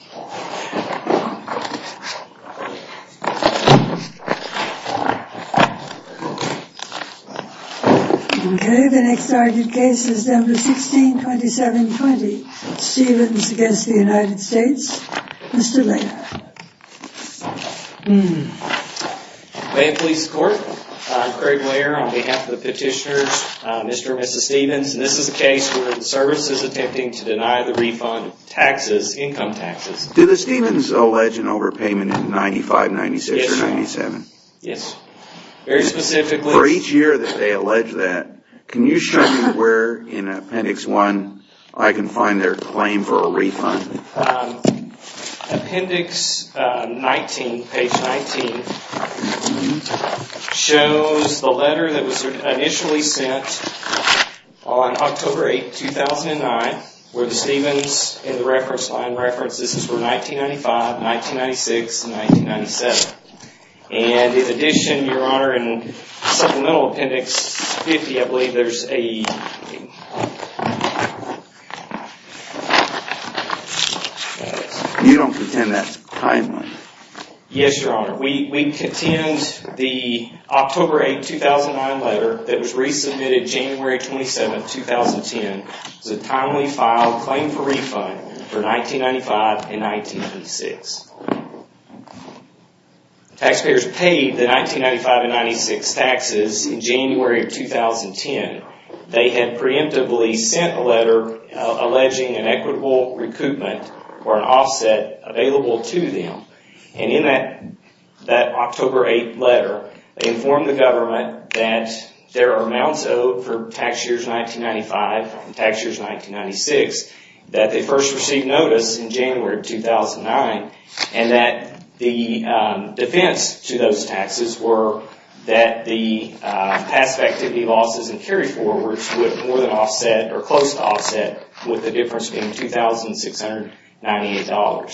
Mr. and Mrs. Stevens. This is a case where the service is attempting to deny the refund of taxes, income taxes. Do the Stevens allege an overpayment in 95, 96 or 97? Yes. For each year that they allege that, can you show me where in appendix 1 I can find their claim for a refund? Appendix 19, page 19, shows the letter that was initially sent on October 8, 2009, where the Stevens in the reference line references were 1995, 1996, and 1997. And in addition, your honor, in supplemental appendix 50, I believe there's a... You don't contend that's a crime letter? Yes, your honor. We contend the October 8, 2009 letter that was a timely file claim for refund for 1995 and 1996. Taxpayers paid the 1995 and 1996 taxes in January of 2010. They had preemptively sent a letter alleging an equitable recoupment or an offset available to them. And in that October 8 letter, they informed the government that there are amounts owed for tax years 1995 and tax years 1996, that they first received notice in January of 2009, and that the defense to those taxes were that the passive activity losses and carry-forwards would more than offset or close to offset with the difference being $2,698.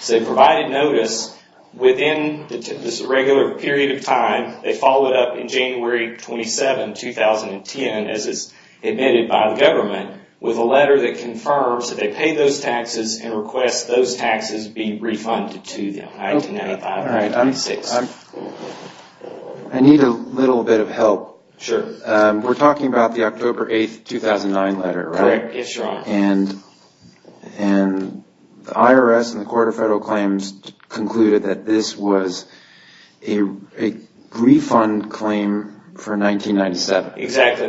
So they provided notice within this regular period of time. They followed up in January 27, 2010, as is admitted by the government, with a letter that confirms that they pay those taxes and request those taxes be refunded to them, 1995 and 1996. I need a little bit of help. Sure. We're talking about the October 8, 2009 letter, right? Correct. Yes, your honor. And the IRS and the Court of Federal Claims this was a refund claim for 1997. Exactly.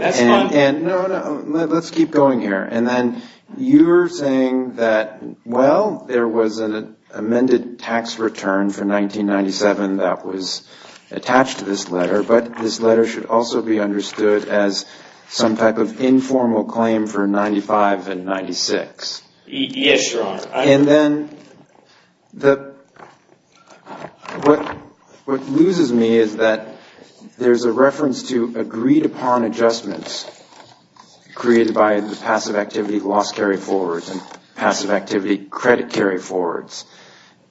No, no, let's keep going here. And then you're saying that, well, there was an amended tax return for 1997 that was attached to this letter, but this letter should also be understood as some type of informal claim for 1995 and then what loses me is that there's a reference to agreed-upon adjustments created by the passive activity loss carry-forwards and passive activity credit carry-forwards.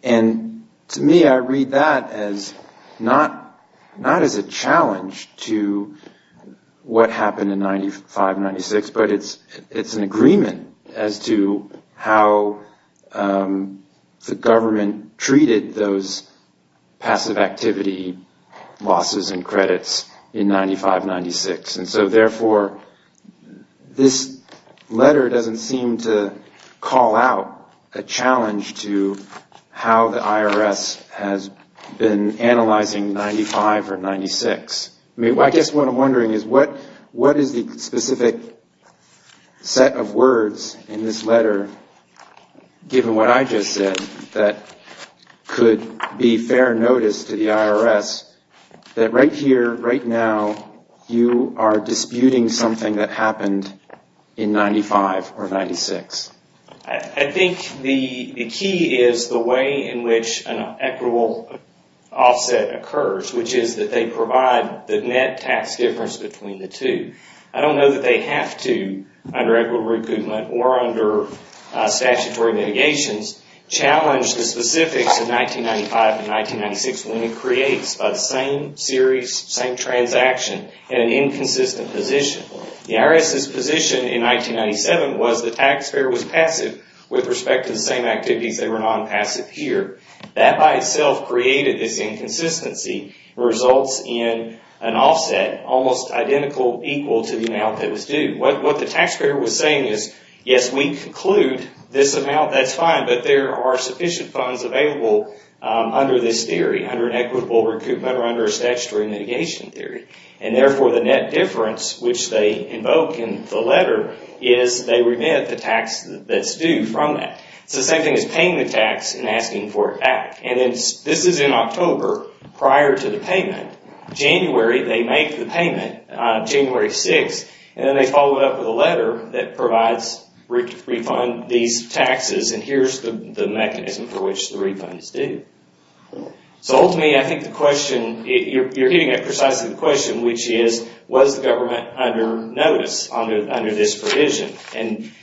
And to me, I read that as not as a challenge to what happened in 1995 and 1996, but it's an agreement as to how the government treated those passive activity losses and credits in 1995 and 1996. And so therefore, this letter doesn't seem to call out a challenge to how the IRS has been analyzing 1995 or 1996. I guess what I'm wondering is what is the specific set of words in this letter, given what I just said, that could be fair notice to the IRS that right here, right now, you are disputing something that happened in 1995 or 1996? I think the key is the way in which an equitable offset occurs, which is that they provide the net tax difference between the two. I don't know that they have to, under equitable recoupment or under statutory mitigations, challenge the specifics in 1995 and 1996 when it creates by the same series, same transaction, an inconsistent position. The IRS's position in 1997 was the taxpayer was passive with respect to the same activities that were non-passive here. That by itself created this inconsistency, results in an offset almost identical, equal to the amount that was due. What the taxpayer was saying is, yes, we conclude this amount, that's fine, but there are sufficient funds available under this theory, under an equitable recoupment or under a statutory mitigation theory. And therefore, the net difference which they invoke in the letter is they remit the tax that's due from that. It's the same thing as paying the tax and asking for it back. This is in October, prior to the payment. January, they make the payment, January 6th, and then they follow it up with a letter that provides refund these taxes, and here's the mechanism for which the refunds do. Ultimately, I think the question, you're getting at precisely the question, which is, was the government under notice under this provision?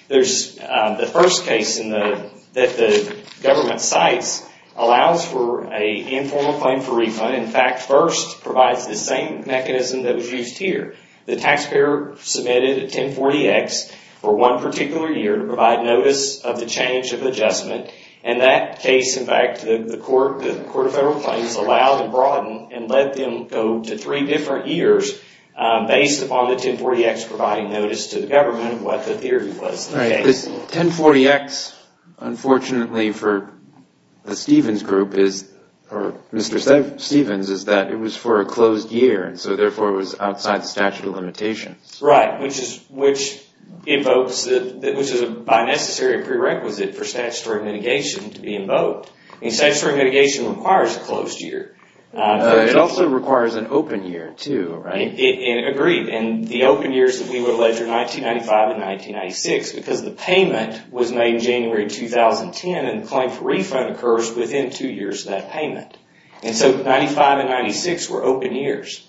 The first case that the government cites allows for an informal claim for refund. In fact, FIRST provides the same mechanism that was used here. The taxpayer submitted a 1040X for one particular year to provide notice of the change of adjustment. In that case, in fact, the Court of Federal Claims allowed and broadened and let them go to three different years based upon the 1040X providing notice to the government of what the theory was. Alright, this 1040X, unfortunately for the Stephens Group, or Mr. Stephens, is that it was for a closed year, and so therefore it was outside the statute of limitations. Right, which invokes, which is by necessity a prerequisite for statutory mitigation to It also requires an open year, too, right? Agreed, and the open years that we would allege are 1995 and 1996 because the payment was made in January 2010, and the claim for refund occurs within two years of that payment, and so 1995 and 1996 were open years.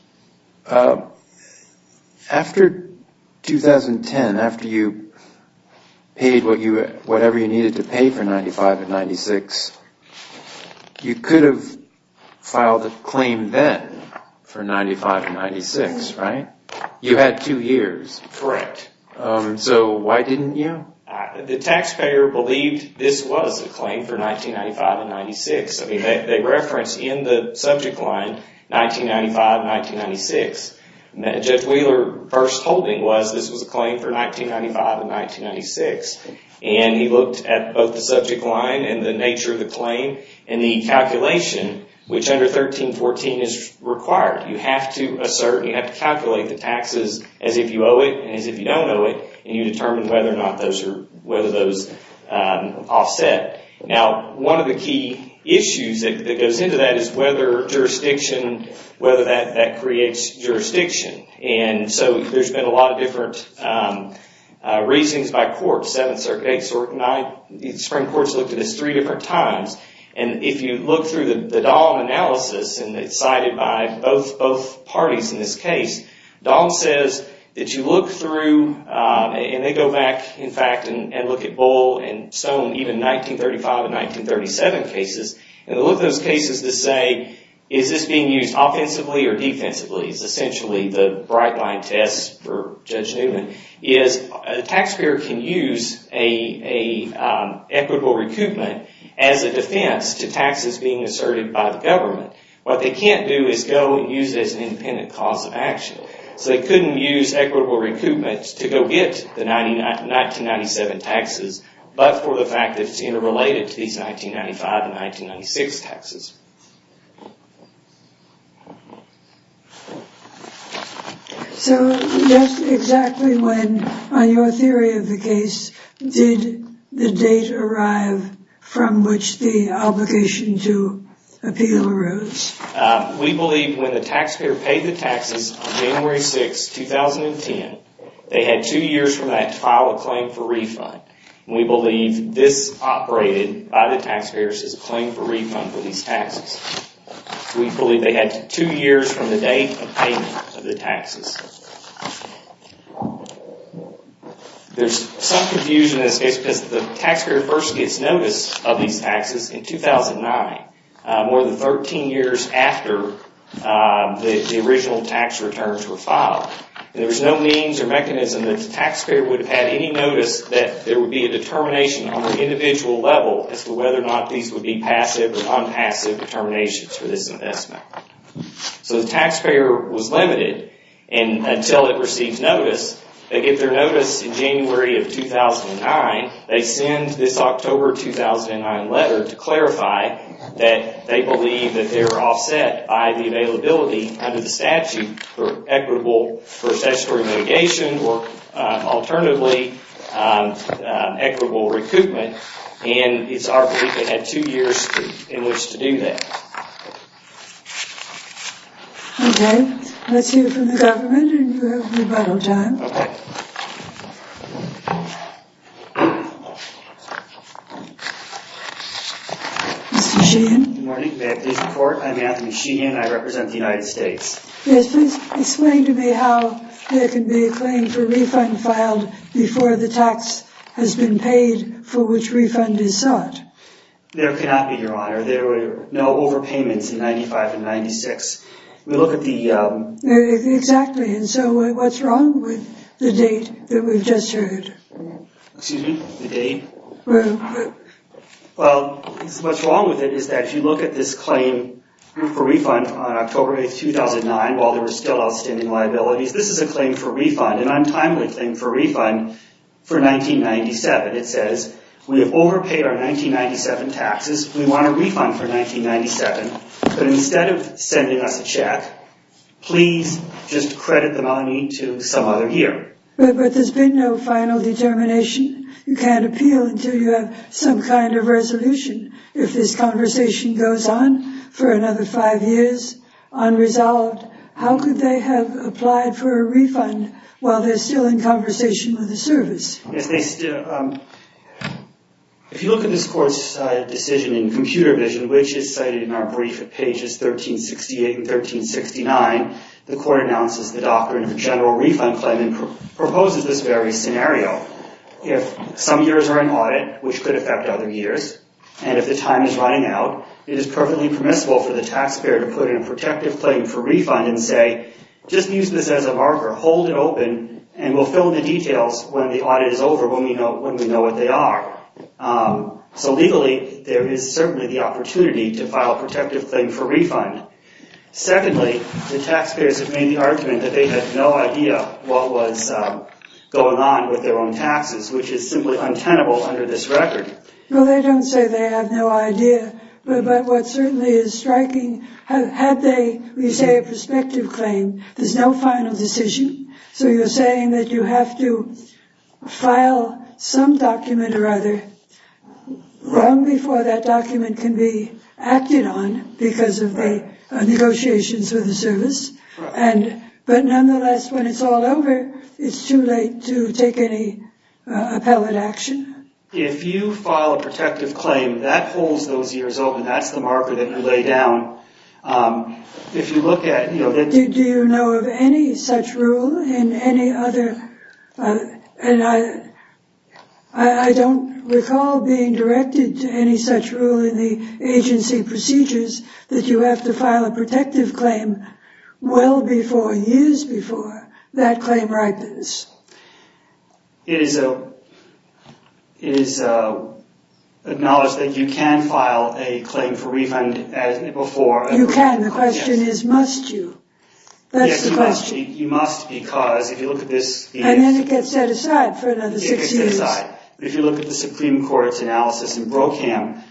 After 2010, after you paid whatever you needed to pay for 1995 and 1996, you could have filed a claim then for 1995 and 1996, right? You had two years. Correct. So why didn't you? The taxpayer believed this was a claim for 1995 and 1996. They referenced in the subject line 1995 and 1996. Judge Wheeler's first holding was this was a claim for 1995 and which under 1314 is required. You have to assert, you have to calculate the taxes as if you owe it and as if you don't owe it, and you determine whether or not those are offset. Now, one of the key issues that goes into that is whether jurisdiction, whether that creates jurisdiction, and so there's been a lot of different reasons by courts. 7th Circuit, 8th Circuit, 9th, the Supreme Court's looked at this three different times, and if you look through the Dahm analysis, and it's cited by both parties in this case, Dahm says that you look through, and they go back, in fact, and look at Bull and Stone, even 1935 and 1937 cases, and they look at those cases to say, is this being used offensively or defensively, is essentially the bright line test for Judge Newman, is the taxpayer can use an equitable recoupment as a defense to taxes being asserted by the government. What they can't do is go and use it as an independent cause of action, so they couldn't use equitable recoupments to go get the 1997 taxes, but for the fact that it's interrelated to these 1995 and 1996 taxes. So, just exactly when, on your theory of the case, did the date arrive from which the obligation to appeal arose? We believe when the taxpayer paid the taxes on January 6, 2010, they had two years from that to file a claim for refund. We believe this operated by the taxpayers as a claim for refund for these taxes, and we believe they had two years from the date of payment of the taxes. There's some confusion in this case because the taxpayer first gets notice of these taxes in 2009, more than 13 years after the original tax returns were filed. There was no means or mechanism that the taxpayer would have had any notice that there would be a determination on an individual level as to whether or not these would be passive or non-passive determinations for this investment. So, the taxpayer was limited until it received notice. They get their notice in January of 2009. They send this October 2009 letter to clarify that they believe that they are offset by the availability under the statute for equitable, for statutory mitigation or alternatively equitable recoupment. And it's our belief they had two years in which to do that. Okay. Let's hear from the government and we'll have rebuttal time. Okay. Mr. Sheehan? Good morning. May I please report? I'm Anthony Sheehan. I represent the United States. Yes, please. Explain to me how there can be a claim for refund filed before the tax has been paid for which refund is sought. There cannot be, Your Honor. There were no overpayments in 1995 and 1996. We look at the... Exactly. And so, what's wrong with the date that we've just heard? Excuse me? The date? Well... Well, what's wrong with it is that if you look at this claim for refund on October 8, 2009 while there were still outstanding liabilities, this is a claim for refund, an untimely claim for refund for 1997. It says, we have overpaid our 1997 taxes. We want a refund for 1997, but instead of sending us a check, please just credit the money to some other year. But there's been no final determination. You can't appeal until you have some kind of resolution. If this conversation goes on for another five years unresolved, how could they have applied for a refund while they're still in conversation with the service? If they still... If you look at this court's decision in Computer Vision, which is cited in our brief at pages 1368 and 1369, the court announces the doctrine of a general refund claim and proposes this very scenario. If some years are in audit, which could affect other years, and if the time is running out, it is perfectly permissible for the taxpayer to put in a protective claim for refund and say, just use this as a marker. Hold it open, and we'll fill in the details when the audit is over, when we know what they are. So legally, there is certainly the opportunity to file a protective claim for refund. Secondly, the taxpayers have made the argument that they have no idea what was going on with their own taxes, which is simply untenable under this record. Well, they don't say they have no idea, but what certainly is striking... Had they, we say, a prospective claim, there's no final decision. So you're saying that you have to file some document or other long before that document can be acted on because of the negotiations with the service, but nonetheless, when it's all over, it's too late to take any appellate action? If you file a protective claim, that holds those years open. That's the marker that you lay down. If you look at... Do you know of any such rule in any other... I don't recall being directed to any such rule in the agency procedures that you have to file a protective claim well before, years before, that claim ripens. It is acknowledged that you can file a claim for refund before... You can. The question is, must you? That's the question. Yes, you must because if you look at this... And then it gets set aside for another six years. It gets set aside. If you look at the Supreme Court's analysis in Brokamp,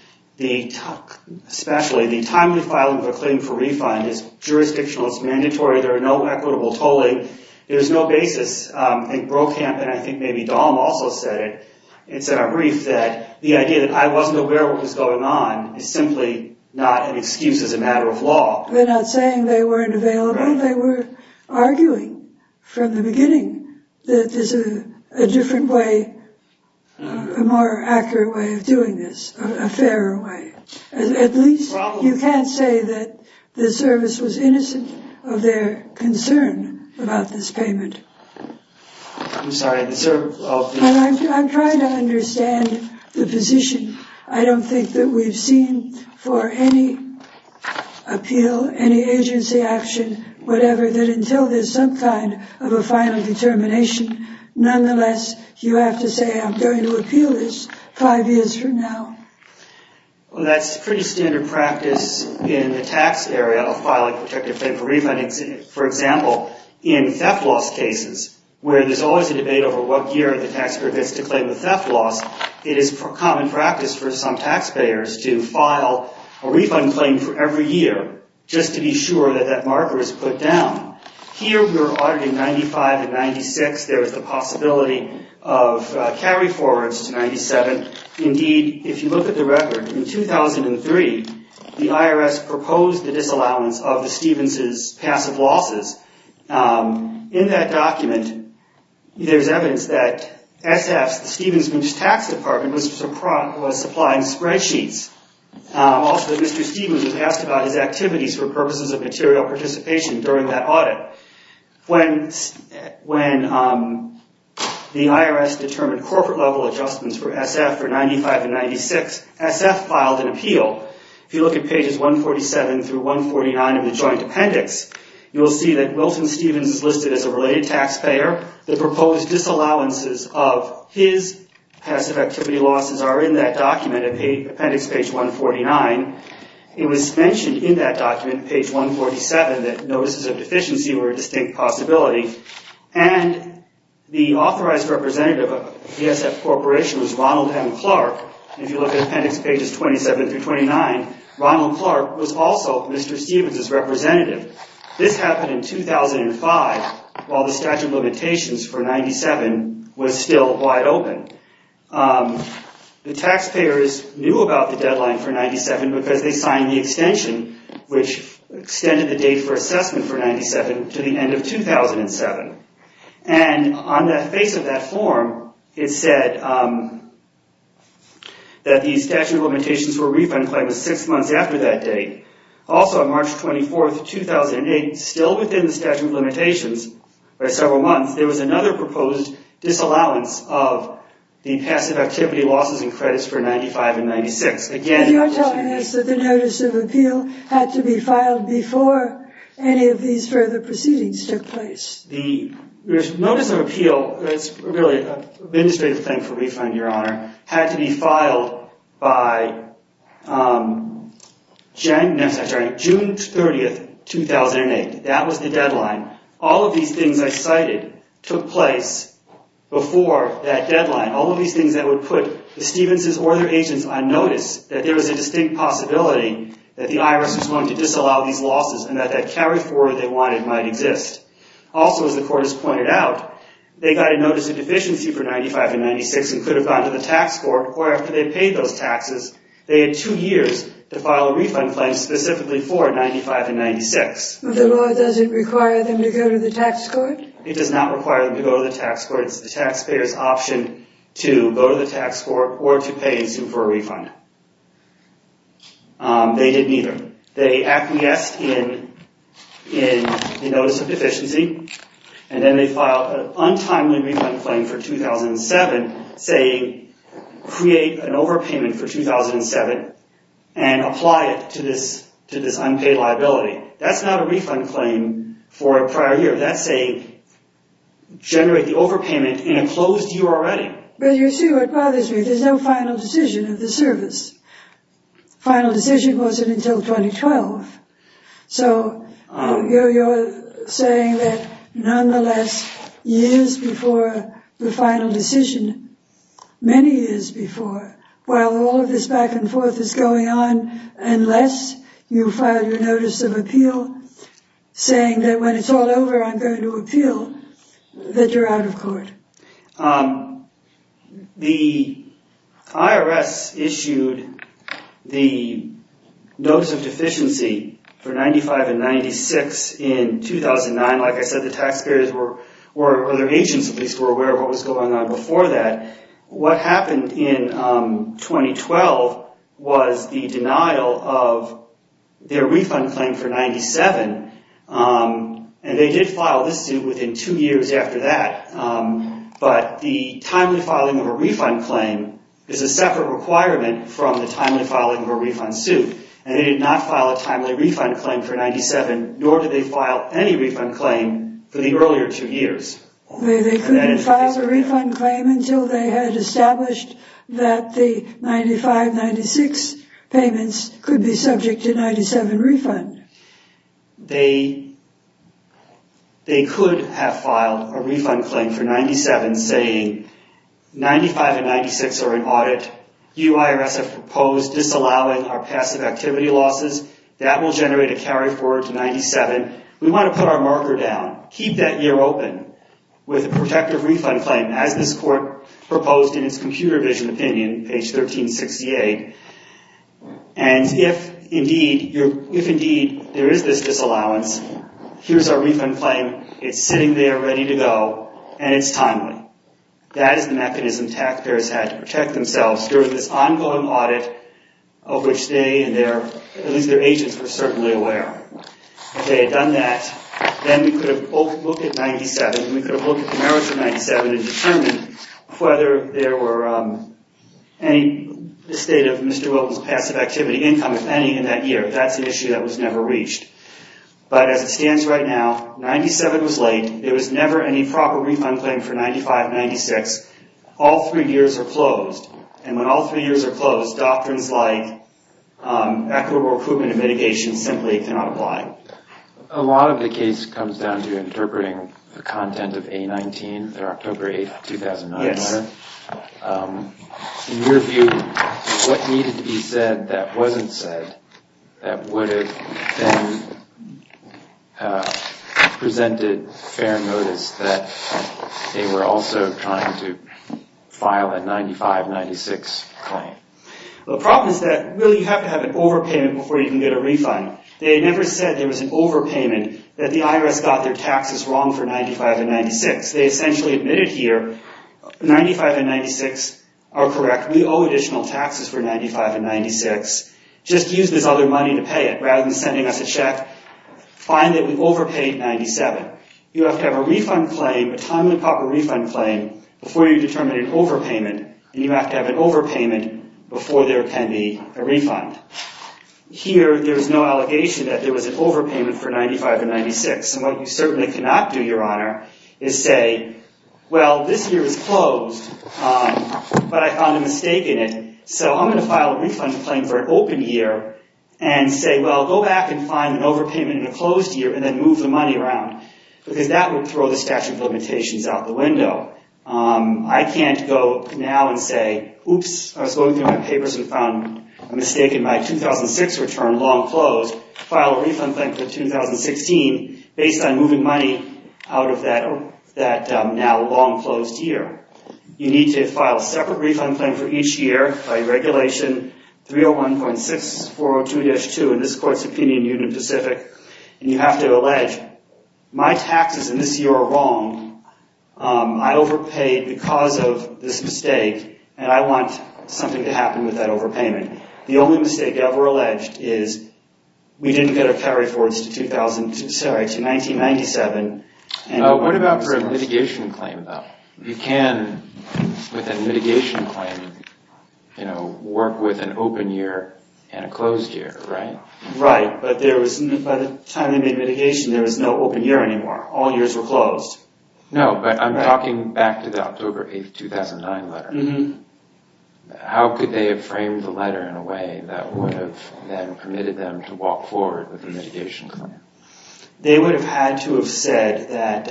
especially, the timely filing of a claim for refund is jurisdictional. It's mandatory. There are no equitable tolling. There's no basis. I think Brokamp and I think maybe Dahl also said it. It's in a brief that the idea that I wasn't aware what was going on is simply not an excuse as a matter of law. They're not saying they weren't available. They were arguing from the beginning that there's a different way, a more accurate way of doing this, a fairer way. At least you can't say that the service was innocent of their concern about this payment. I'm trying to understand the position. I don't think that we've seen for any appeal, any agency action, whatever, that until there's some kind of a final determination, nonetheless, you have to say, I'm going to appeal this five years from now. Well, that's pretty standard practice in the tax area of filing a protective claim for refund. For example, in theft loss cases, where there's always a debate over what year the taxpayer gets to claim the theft loss, it is common practice for some taxpayers to file a refund claim for every year just to be sure that that marker is put down. Here, we're auditing 95 and 96. There's the possibility of carry-forwards to 97. Indeed, if you look at the record, in 2003, the IRS proposed the disallowance of the Stevens' passive losses. In that document, there's evidence that S.F.'s, the Stevens' tax department, was supplying spreadsheets. Also, Mr. Stevens was asked about his activities for purposes of material participation during that audit. When the IRS determined corporate level adjustments for S.F. for 95 and 96, S.F. filed an appeal. If you look at pages 147 through 149 of the joint appendix, you'll see that Milton Stevens is listed as a related taxpayer. The proposed disallowances of his passive activity losses are in that document, appendix page 149. It was mentioned in that document, page 147, that notices of deficiency were a distinct possibility. The authorized representative of S.F. Corporation was Ronald M. Clark. If you look at appendix pages 27 through 29, Ronald Clark was also Mr. Stevens' representative. This happened in 2005, while the statute of limitations for 97 was still wide open. The taxpayers knew about the deadline for 97 because they signed the extension, which extended the date for assessment for 97 to the end of 2007. On the face of that form, it said that the statute of limitations for a refund claim was six months after that date. Also, on March 24th, 2008, still within the statute of limitations by several months, there was another proposed disallowance of the passive activity losses and credits for 95 and 96. You're telling us that the notice of appeal had to be filed before any of these further proceedings took place. The notice of appeal, that's really an administrative thing for a refund, Your Honor, had to be filed That was the deadline. All of these things I cited took place before that deadline. All of these things that would put the Stevens' or their agents on notice, that there was a distinct possibility that the IRS was going to disallow these losses and that that carry forward they wanted might exist. Also, as the court has pointed out, they got a notice of deficiency for 95 and 96 and could have gone to the tax court, or after they paid those taxes, they had two years to file a refund claim specifically for 95 and 96. The law doesn't require them to go to the tax court? It does not require them to go to the tax court. It's the taxpayer's option to go to the tax court or to pay and sue for a refund. They didn't either. They acquiesced in the notice of deficiency and then they filed an untimely refund claim for 2007 saying, create an overpayment for 2007 and apply it to this unpaid liability. That's not a refund claim for a prior year. That's a generate the overpayment in a closed year already. But you see what bothers me? There's no final decision of the service. Final decision wasn't until 2012. So you're saying that nonetheless, years before the final decision, many years before, while all of this back and forth is going on, unless you filed your notice of appeal saying that when it's all over, I'm going to appeal, that you're out of court. The IRS issued the notice of deficiency for 95 and 96 in 2009. Like I said, the taxpayers were, or the agents at least, were aware of what was going on before that. What happened in 2012 was the denial of their refund claim for 97. And they did file this suit within two years after that. But the timely filing of a refund claim is a separate requirement from the timely filing of a refund suit. And they did not file a timely refund claim for 97, nor did they file any refund claim for the earlier two years. They couldn't file a refund claim until they had established that the 95-96 payments could be subject to 97 refund. They could have filed a refund claim for 97 saying 95 and 96 are in audit. You IRS have proposed disallowing our passive activity losses. That will generate a carry forward to 97. We want to put our marker down. Keep that year open with a protective refund claim as this court proposed in its computer vision opinion, page 1368. And if indeed there is this disallowance, here's our refund claim. It's sitting there ready to go and it's timely. That is the mechanism taxpayers had to protect themselves during this ongoing audit of which they and their, at least their agents, were certainly aware. If they had done that, then we could have looked at 97, we could have looked at the merits of 97 and determined whether there were any, the state of Mr. Wilton's passive activity income, if any, in that year. That's an issue that was never reached. But as it stands right now, 97 was late. There was never any proper refund claim for 95-96. All three years are closed. And when all three years are closed, doctrines like equitable recruitment and mitigation simply cannot apply. A lot of the case comes down to interpreting the content of A-19, their October 8, 2009 letter. Yes. In your view, what needed to be said that wasn't said that would have been presented fair notice that they were also trying to file a 95-96 claim? The problem is that, really, you have to have an overpayment before you can get a refund. They never said there was an overpayment, that the IRS got their taxes wrong for 95-96. They essentially admitted here, 95-96 are correct. We owe additional taxes for 95-96. Just use this other money to pay it rather than sending us a check. Find that we overpaid 97. You have to have a refund claim, a timely proper refund claim, before you determine an overpayment. And you have to have an overpayment before there can be a refund. Here, there's no allegation that there was an overpayment for 95-96. And what you certainly cannot do, Your Honor, is say, well, this year is closed, but I found a mistake in it. So I'm going to file a refund claim for an open year and say, well, go back and find an overpayment in a closed year and then move the money around. Because that would throw the statute of limitations out the window. I can't go now and say, oops, I was going through my papers and found a mistake in my 2006 return, long closed, file a refund claim for 2016 based on moving money out of that now long closed year. You need to file a separate refund claim for each year by Regulation 301.6402-2 in this Court's opinion, Union Pacific. And you have to allege, my taxes in this year are wrong. I overpaid because of this mistake. And I want something to happen with that overpayment. The only mistake ever alleged is we didn't get our carry forwards to 1997. What about for a mitigation claim, though? You can, with a mitigation claim, work with an open year and a closed year, right? Right. But by the time they made mitigation, there was no open year anymore. All years were closed. No, but I'm talking back to the October 8, 2009 letter. How could they have framed the letter in a way that would have then permitted them to walk forward with a mitigation claim? They would have had to have said that,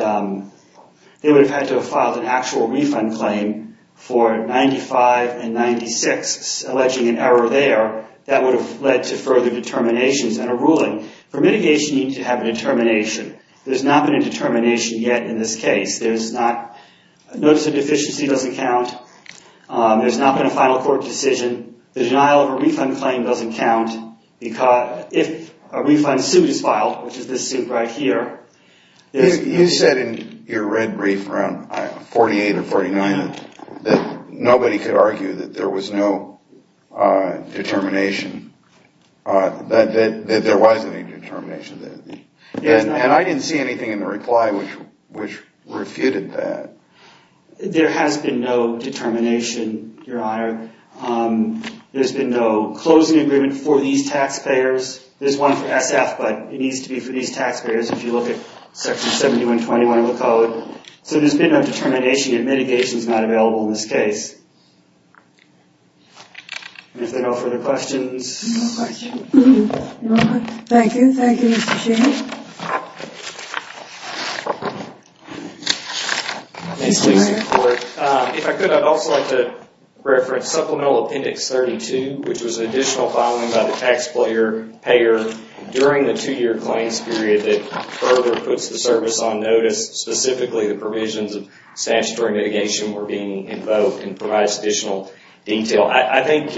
they would have had to have filed an actual refund claim for 1995 and 1996, alleging an error there that would have led to further determinations and a ruling. For mitigation, you need to have a determination. There's not been a determination yet in this case. A notice of deficiency doesn't count. There's not been a final court decision. The denial of a refund claim doesn't count. If a refund suit is filed, which is this suit right here. You said in your red brief around 48 or 49 that nobody could argue that there was no determination, that there was any determination. And I didn't see anything in the reply which refuted that. There has been no determination, Your Honor. There's been no closing agreement for these taxpayers. There's one for SF, but it needs to be for these taxpayers if you look at Section 7121 of the code. So there's been no determination and mitigation is not available in this case. If there are no further questions... Any more questions? Thank you. Thank you, Mr. Sheehan. If I could, I'd also like to reference Supplemental Appendix 32, which was an additional filing by the taxpayer-payer during the two-year claims period that further puts the service on notice, specifically the provisions of statutory mitigation were being invoked and provides additional detail. Well, I think...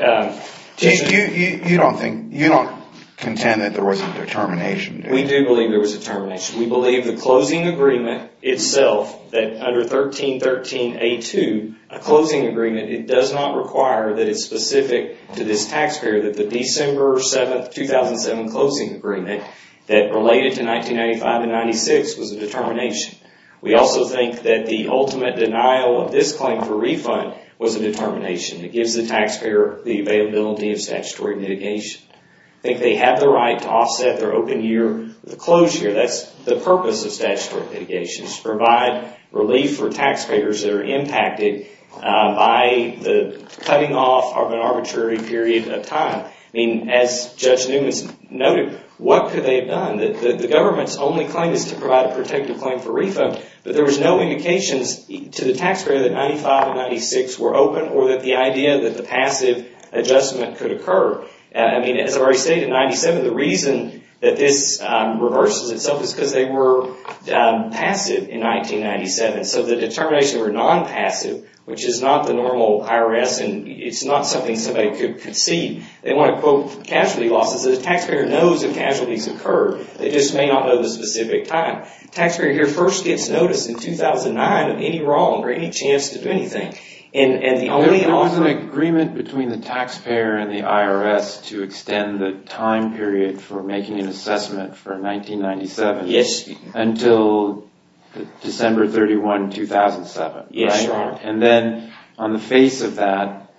You don't contend that there wasn't determination, do you? We do believe there was a determination. We believe the closing agreement itself, that under 1313A2, a closing agreement, it does not require that it's specific to this taxpayer that the December 7th, 2007 closing agreement that related to 1995 and 1996 was a determination. We also think that the ultimate denial of this claim for refund was a determination. It gives the taxpayer the availability of statutory mitigation. I think they have the right to offset their open year with a closed year. That's the purpose of statutory mitigation, to provide relief for taxpayers that are impacted by the cutting off of an arbitrary period of time. I mean, as Judge Newman noted, what could they have done? The government's only claim is to provide a protective claim for refund, but there was no indications to the taxpayer that 1995 and 1996 were open or that the idea that the passive adjustment could occur. As I've already stated, in 1997, the reason that this reverses itself is because they were passive in 1997. So the determination were non-passive, which is not the normal IRS, and it's not something somebody could concede. They want to quote casualty losses. The taxpayer knows if casualties occurred. They just may not know the specific time. The taxpayer here first gets notice in 2009 of any wrong or any chance to do anything. There was an agreement between the taxpayer and the IRS to extend the time period for making an assessment for 1997 until December 31, 2007. And then, on the face of that,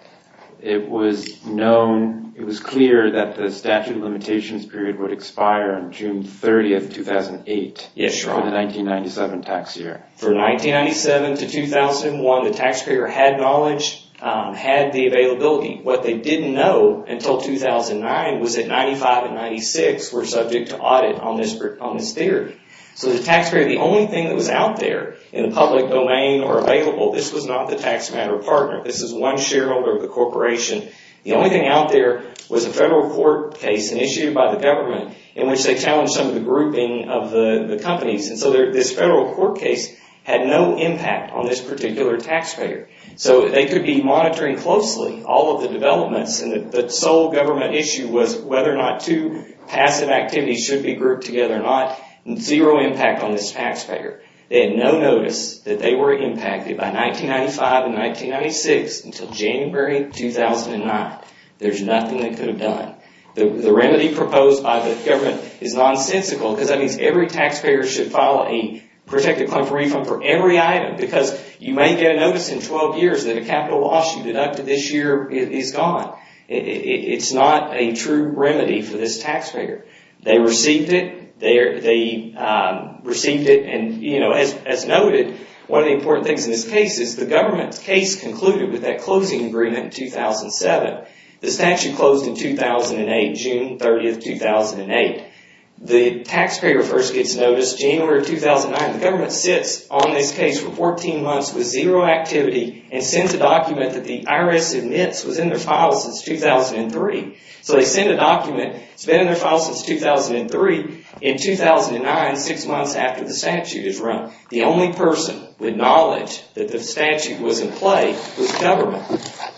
it was known, it was clear that the statute of limitations period would expire on June 30, 2008. For the 1997 tax year. For 1997 to 2001, the taxpayer had knowledge, had the availability. What they didn't know until 2009 was that 1995 and 1996 were subject to audit on this theory. So the taxpayer, the only thing that was out there in the public domain or available, this was not the tax matter partner. This was one shareholder of the corporation. The only thing out there was a federal court case initiated by the government in which they challenged some of the grouping of the companies. This federal court case had no impact on this particular taxpayer. They could be monitoring closely all of the developments and the sole government issue was whether or not two passive activities should be grouped together or not. Zero impact on this taxpayer. They had no notice that they were impacted by 1995 and 1996 until January 2009. There's nothing they could have done. The remedy proposed by the government is nonsensical because that means every taxpayer should file a protected claim for refund for every item because you may get a notice in 12 years that a capital loss you deducted this year is gone. It's not a true remedy for this taxpayer. They received it. They received it and as noted, one of the important things in this case is the government's case concluded with that closing agreement in 2007. The statute closed in 2008. June 30, 2008. The taxpayer first gets notice January 2009. The government sits on this case for 14 months with zero activity and sends a document that the IRS admits was in their file since 2003. So they send a document that's been in their file since 2003 in 2009, six months after the statute is run. The only person with knowledge that the statute was in play was government.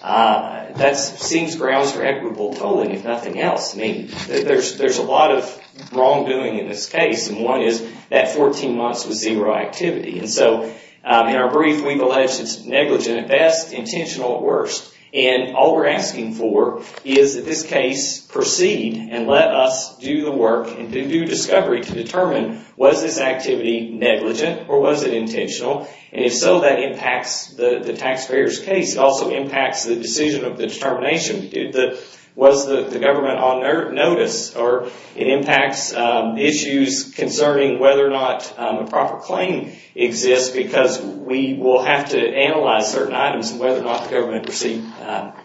That seems grounds for equitable tolling if nothing else. There's a lot of wrongdoing in this case and one is that 14 months with zero activity and so in our brief we've alleged it's negligent at best intentional at worst and all we're asking for is that this case proceed and let us do the work and do discovery to determine was this activity negligent or was it intentional and if so that impacts the taxpayer's case. It also impacts the decision of the determination was the government on notice or it impacts issues concerning whether or not a proper claim exists because we will have to analyze certain items whether or not the government received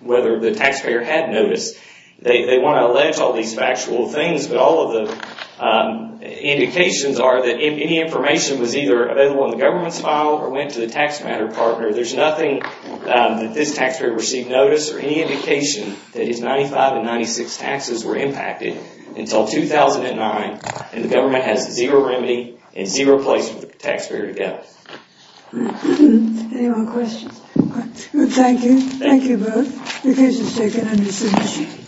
whether the taxpayer had notice. They want to allege all these factual things but all of the indications are that if any information was either available in the government's file or went to the tax matter partner there's nothing that this taxpayer received notice or any indication that his 95 and 96 taxes were impacted until 2009 and the government has zero remedy and zero place for the taxpayer to go. Any more questions? Thank you. Thank you both. The case is taken under submission.